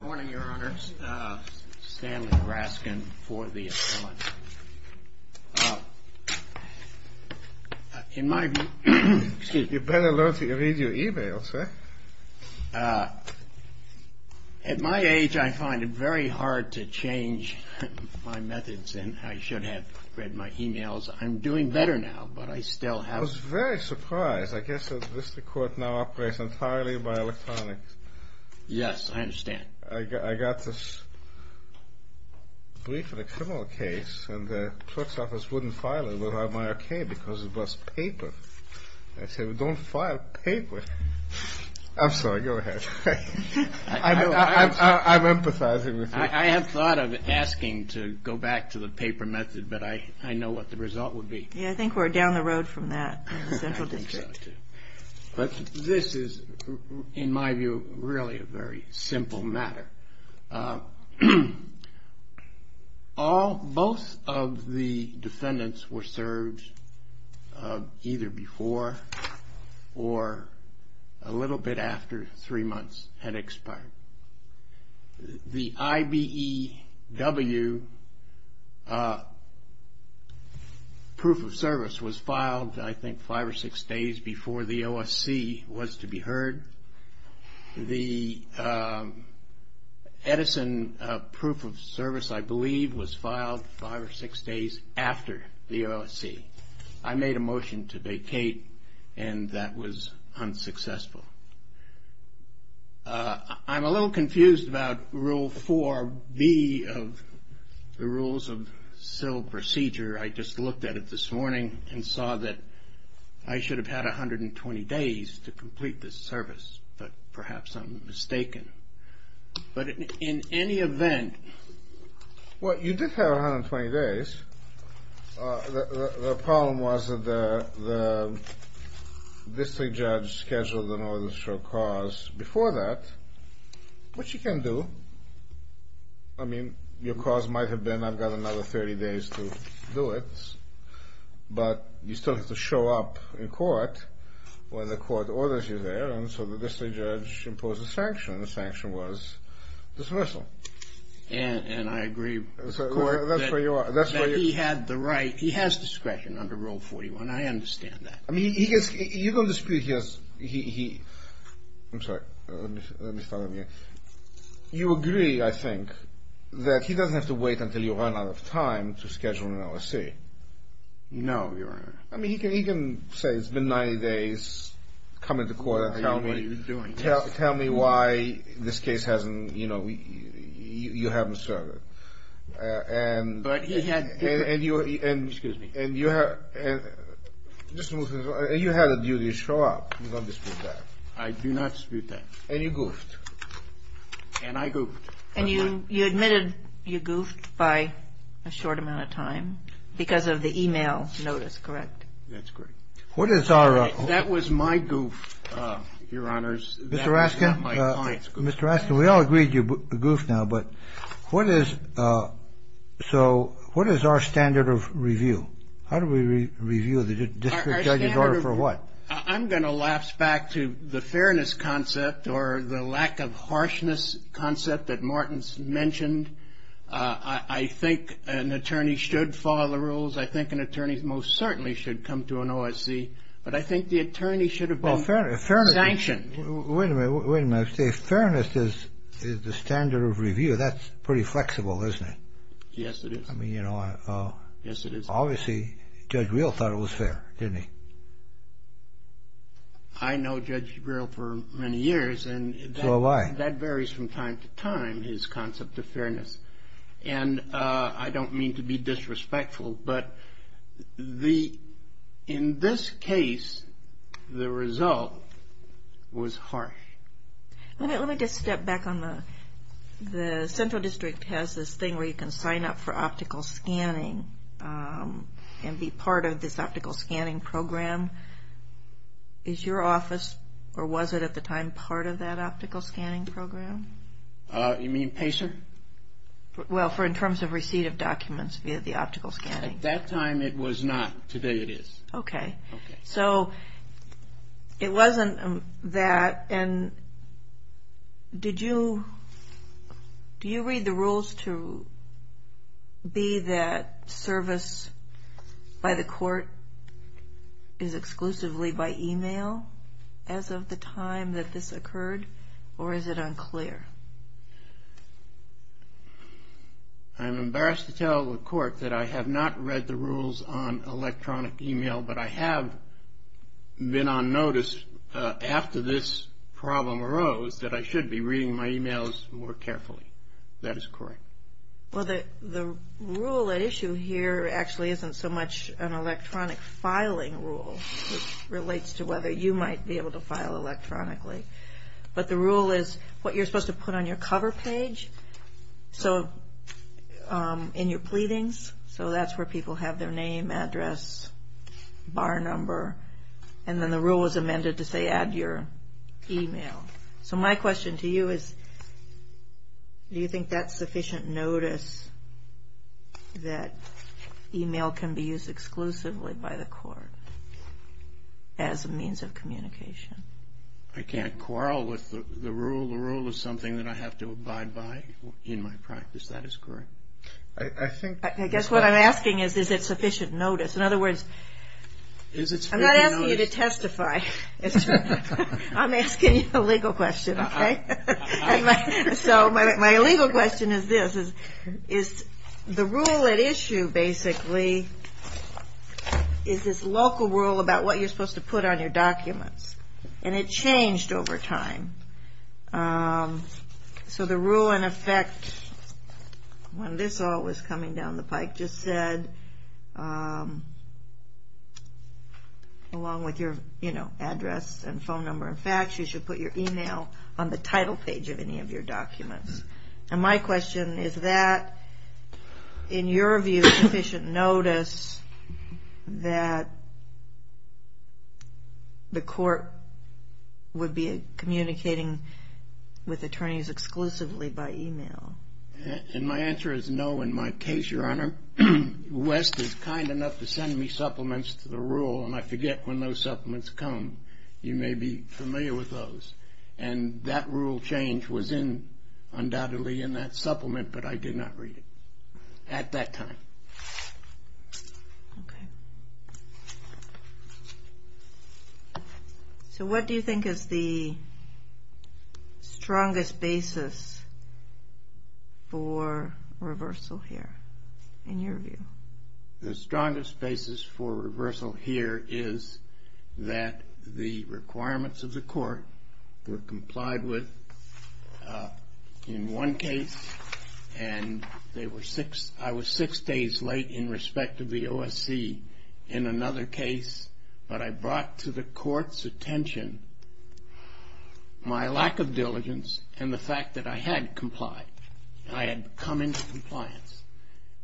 Good morning, Your Honor. Stanley Raskin for the appellant. In my view... Excuse me. You better learn to read your e-mails, eh? At my age, I find it very hard to change my methods, and I should have read my e-mails. I'm doing better now, but I still have... I was very surprised. I guess that this court now operates entirely by electronics. Yes, I understand. I got this brief in a criminal case, and the court's office wouldn't file it without my okay because it was paper. I said, well, don't file paper. I'm sorry. Go ahead. I'm empathizing with you. I have thought of asking to go back to the paper method, but I know what the result would be. Yeah, I think we're down the road from that in the central district. But this is, in my view, really a very simple matter. Both of the defendants were served either before or a little bit after three months had expired. The IBEW proof of service was filed, I think, five or six days before the OSC was to be heard. The Edison proof of service, I believe, was filed five or six days after the OSC. I made a motion to vacate, and that was unsuccessful. I'm a little confused about Rule 4B of the rules of civil procedure. I just looked at it this morning and saw that I should have had 120 days to complete this service, but perhaps I'm mistaken. But in any event. Well, you did have 120 days. The problem was that the district judge scheduled an order to show cause before that, which you can do. I mean, your cause might have been, I've got another 30 days to do it, but you still have to show up in court when the court orders you there, and so the district judge imposed a sanction, and the sanction was dismissal. And I agree with the court that he had the right. He has discretion under Rule 41. I understand that. I mean, you can dispute he has. I'm sorry. Let me start over again. You agree, I think, that he doesn't have to wait until you run out of time to schedule an OSC. No, Your Honor. I mean, he can say it's been 90 days, come into court and tell me why this case hasn't, you know, you haven't served it. And you had a duty to show up. You don't dispute that. I do not dispute that. And you goofed. And I goofed. And you admitted you goofed by a short amount of time because of the e-mail notice, correct? That's correct. That was my goof, Your Honors. Mr. Raskin? That was my client's goof. Mr. Raskin, we all agreed you goofed now. But what is so what is our standard of review? How do we review the district judge's order for what? I'm going to lapse back to the fairness concept or the lack of harshness concept that Martin mentioned. I think an attorney should follow the rules. I think an attorney most certainly should come to an OSC. But I think the attorney should have been sanctioned. Wait a minute. Wait a minute. I say fairness is the standard of review. That's pretty flexible, isn't it? Yes, it is. I mean, you know. Yes, it is. Obviously, Judge Reel thought it was fair, didn't he? I know Judge Reel for many years. So have I. And that varies from time to time, his concept of fairness. And I don't mean to be disrespectful, but in this case, the result was harsh. Let me just step back on the central district has this thing where you can sign up for optical scanning and be part of this optical scanning program. Is your office or was it at the time part of that optical scanning program? You mean PACER? Well, for in terms of receipt of documents via the optical scanning. At that time it was not. Today it is. Okay. Okay. So it wasn't that. And did you read the rules to be that service by the court is exclusively by e-mail as of the time that this occurred? Or is it unclear? I'm embarrassed to tell the court that I have not read the rules on electronic e-mail, but I have been on notice after this problem arose that I should be reading my e-mails more carefully. That is correct. Well, the rule at issue here actually isn't so much an electronic filing rule, it relates to whether you might be able to file electronically. But the rule is what you're supposed to put on your cover page, so in your pleadings, so that's where people have their name, address, bar number, and then the rule is amended to say add your e-mail. So my question to you is, do you think that's sufficient notice that e-mail can be used exclusively by the court as a means of communication? I can't quarrel with the rule. The rule is something that I have to abide by in my practice. That is correct. I guess what I'm asking is, is it sufficient notice? I'm asking you a legal question, okay? So my legal question is this, is the rule at issue basically is this local rule about what you're supposed to put on your documents, and it changed over time. So the rule in effect, when this all was coming down the pike, just said, along with your address and phone number and fax, you should put your e-mail on the title page of any of your documents. And my question is that, in your view, sufficient notice that the court would be communicating with attorneys exclusively by e-mail? And my answer is no in my case, Your Honor. West is kind enough to send me supplements to the rule, and I forget when those supplements come. You may be familiar with those. And that rule change was in, undoubtedly, in that supplement, but I did not read it at that time. Okay. So what do you think is the strongest basis for reversal here, in your view? The strongest basis for reversal here is that the requirements of the court were complied with in one case, and I was six days late in respect of the OSC in another case. But I brought to the court's attention my lack of diligence and the fact that I had complied. I had come into compliance.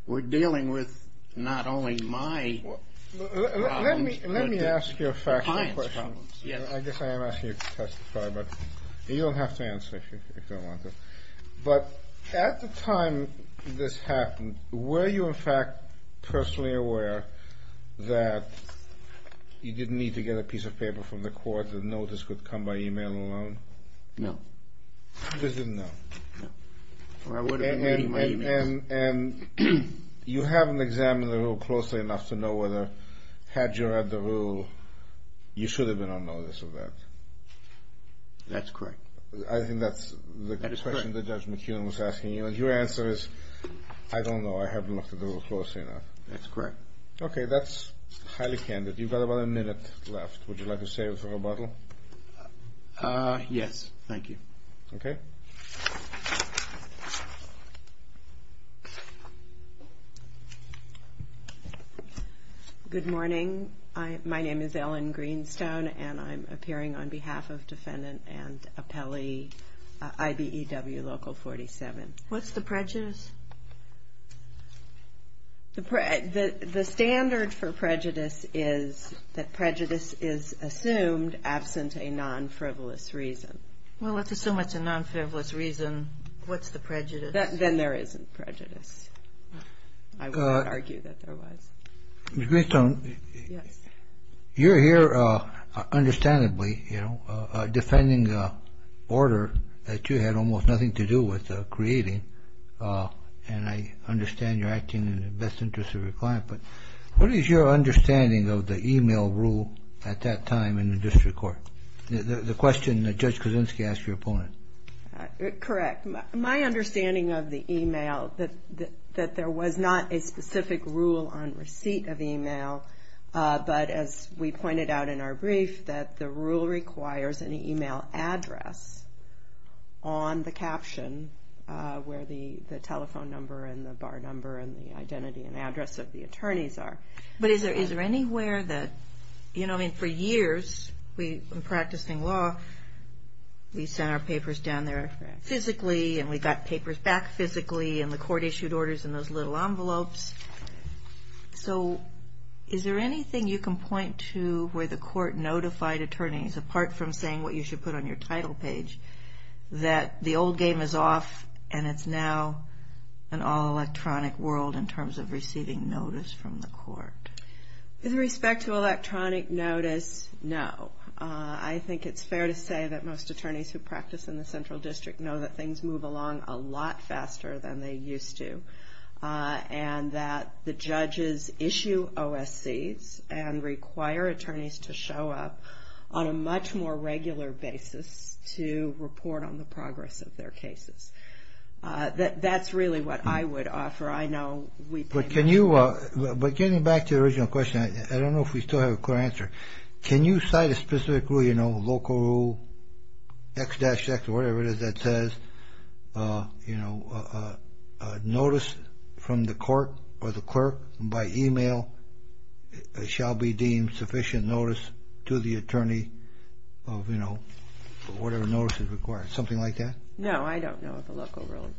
We're dealing with not only my problems but the client's problems. Let me ask you a factual question. Yes. I guess I am asking you to testify, but you don't have to answer if you don't want to. But at the time this happened, were you, in fact, personally aware that you didn't need to get a piece of paper from the court, that notice could come by e-mail alone? No. You just didn't know? No. And you haven't examined the rule closely enough to know whether, had you read the rule, you should have been on notice of that? That's correct. I think that's the question that Judge McKeon was asking. Your answer is, I don't know. I haven't looked at the rule closely enough. That's correct. Okay. That's highly candid. You've got about a minute left. Would you like to save it for rebuttal? Yes. Thank you. Okay. Good morning. My name is Ellen Greenstone, and I'm appearing on behalf of Defendant and Appellee IBEW Local 47. What's the prejudice? The standard for prejudice is that prejudice is assumed absent a non-frivolous reason. Well, let's assume it's a non-frivolous reason. What's the prejudice? Then there isn't prejudice. I would argue that there was. Ms. Greenstone. Yes. You're here, understandably, you know, defending an order that you had almost nothing to do with creating, and I understand you're acting in the best interest of your client, but what is your understanding of the e-mail rule at that time in the district court? The question that Judge Kuczynski asked your opponent. Correct. My understanding of the e-mail, that there was not a specific rule on receipt of e-mail, but as we pointed out in our brief, that the rule requires an e-mail address on the caption where the telephone number and the bar number and the identity and address of the attorneys are. But is there anywhere that, you know, I mean, for years in practicing law, we sent our papers down there physically and we got papers back physically and the court issued orders in those little envelopes. So is there anything you can point to where the court notified attorneys, apart from saying what you should put on your title page, that the old game is off and it's now an all-electronic world in terms of receiving notice from the court? With respect to electronic notice, no. I think it's fair to say that most attorneys who practice in the central district know that things move along a lot faster than they used to and that the judges issue OSCs and require attorneys to show up on a much more regular basis to report on the progress of their cases. That's really what I would offer. I know we've been- But can you, but getting back to the original question, I don't know if we still have a clear answer. Can you cite a specific rule, you know, local X-X or whatever it is that says, you know, it shall be deemed sufficient notice to the attorney of, you know, whatever notice is required. Something like that? No, I don't know of a local rule.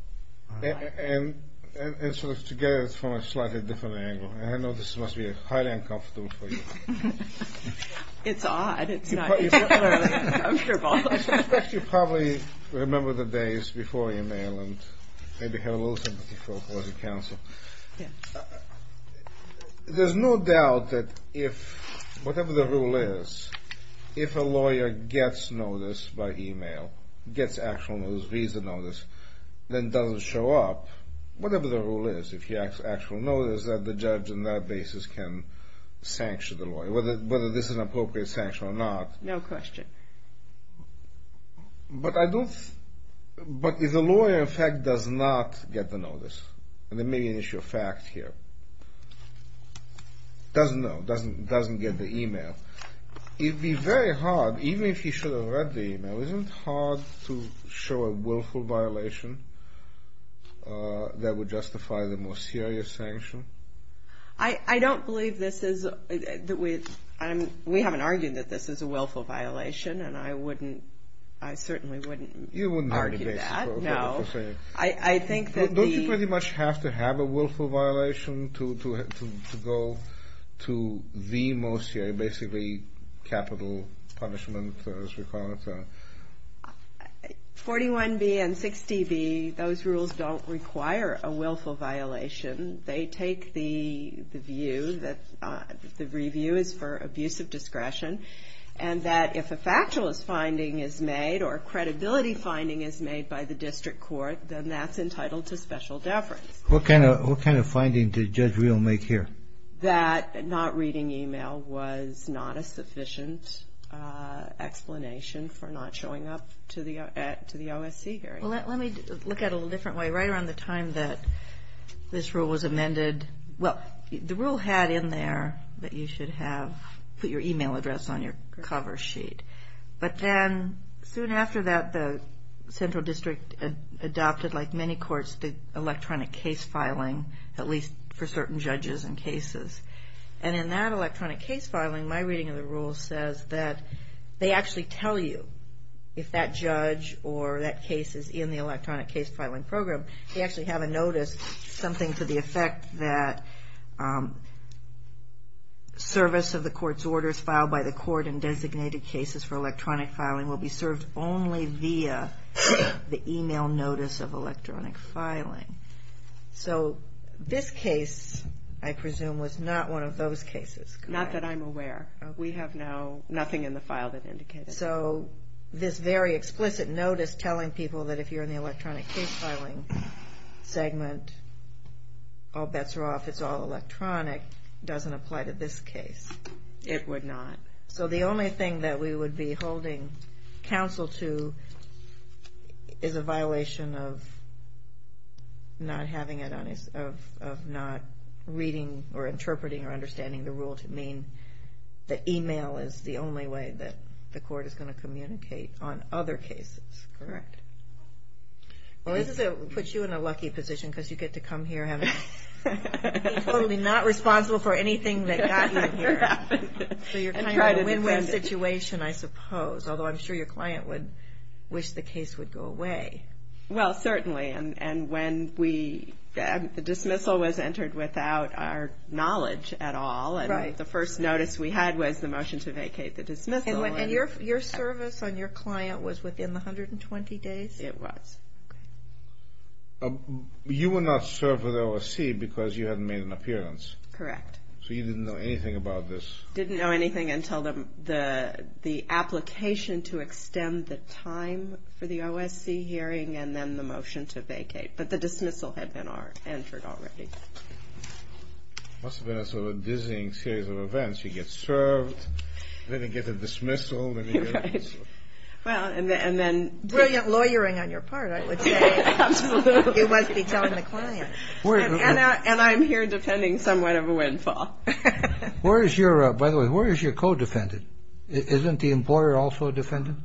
And sort of together it's from a slightly different angle. I know this must be highly uncomfortable for you. It's odd. It's not particularly uncomfortable. You probably remember the days before your mail and maybe have a little sympathy for the counsel. Yeah. There's no doubt that if, whatever the rule is, if a lawyer gets notice by email, gets actual notice, reads the notice, then doesn't show up, whatever the rule is, if he has actual notice that the judge on that basis can sanction the lawyer, whether this is an appropriate sanction or not. No question. But I don't, but if the lawyer in fact does not get the notice, and there may be an issue of fact here, doesn't know, doesn't get the email, it would be very hard, even if he should have read the email, isn't it hard to show a willful violation that would justify the more serious sanction? I don't believe this is, we haven't argued that this is a willful violation, and I wouldn't, I certainly wouldn't argue that. You wouldn't argue that. No. I think that the- Don't you pretty much have to have a willful violation to go to the most, basically capital punishment, as we call it? 41B and 60B, those rules don't require a willful violation. They take the view that the review is for abuse of discretion, and that if a factualist finding is made or a credibility finding is made by the district court, then that's entitled to special deference. What kind of finding did Judge Reel make here? That not reading email was not a sufficient explanation for not showing up to the OSC hearing. Well, let me look at it a little different way. Right around the time that this rule was amended, well, the rule had in there that you should have put your email address on your cover sheet, but then soon after that the central district adopted, like many courts, the electronic case filing, at least for certain judges and cases. And in that electronic case filing, my reading of the rule says that they actually tell you if that judge or that case is in the electronic case filing program. They actually have a notice, something to the effect that service of the court's orders filed by the court in designated cases for electronic filing will be served only via the email notice of electronic filing. So this case, I presume, was not one of those cases. Not that I'm aware. We have now nothing in the file that indicates that. And so this very explicit notice telling people that if you're in the electronic case filing segment, all bets are off, it's all electronic, doesn't apply to this case. It would not. So the only thing that we would be holding counsel to is a violation of not having it on, of not reading or interpreting or understanding the rule to mean that email is the only way that the court is going to communicate on other cases, correct? Well, this puts you in a lucky position because you get to come here and be totally not responsible for anything that got you here. So you're kind of in a win-win situation, I suppose, although I'm sure your client would wish the case would go away. Well, certainly. And when the dismissal was entered without our knowledge at all and the first notice we had was the motion to vacate the dismissal. And your service on your client was within the 120 days? It was. You were not served with OSC because you hadn't made an appearance. Correct. So you didn't know anything about this. Didn't know anything until the application to extend the time for the OSC hearing and then the motion to vacate. But the dismissal had been entered already. Must have been a sort of a dizzying series of events. You get served, then you get a dismissal, then you get a dismissal. Right. Well, and then brilliant lawyering on your part, I would say. Absolutely. It must be telling the client. And I'm here depending somewhat of a windfall. By the way, where is your co-defendant? Isn't the employer also a defendant?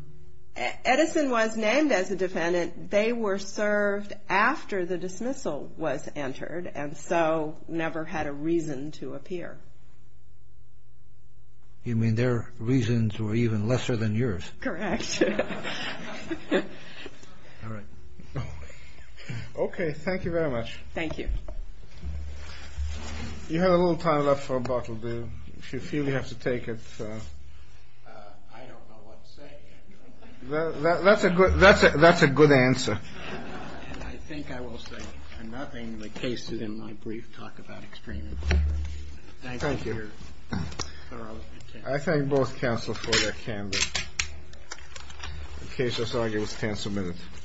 Edison was named as a defendant. They were served after the dismissal was entered and so never had a reason to appear. You mean their reasons were even lesser than yours? Correct. All right. Okay, thank you very much. Thank you. You have a little time left for a bottle, do you? If you feel you have to take it. I don't know what to say. That's a good answer. And I think I will say nothing. The case is in my brief talk about extremism. Thank you for your thorough attention. I thank both counsel for their candor. The case is argued. Let's cancel minutes.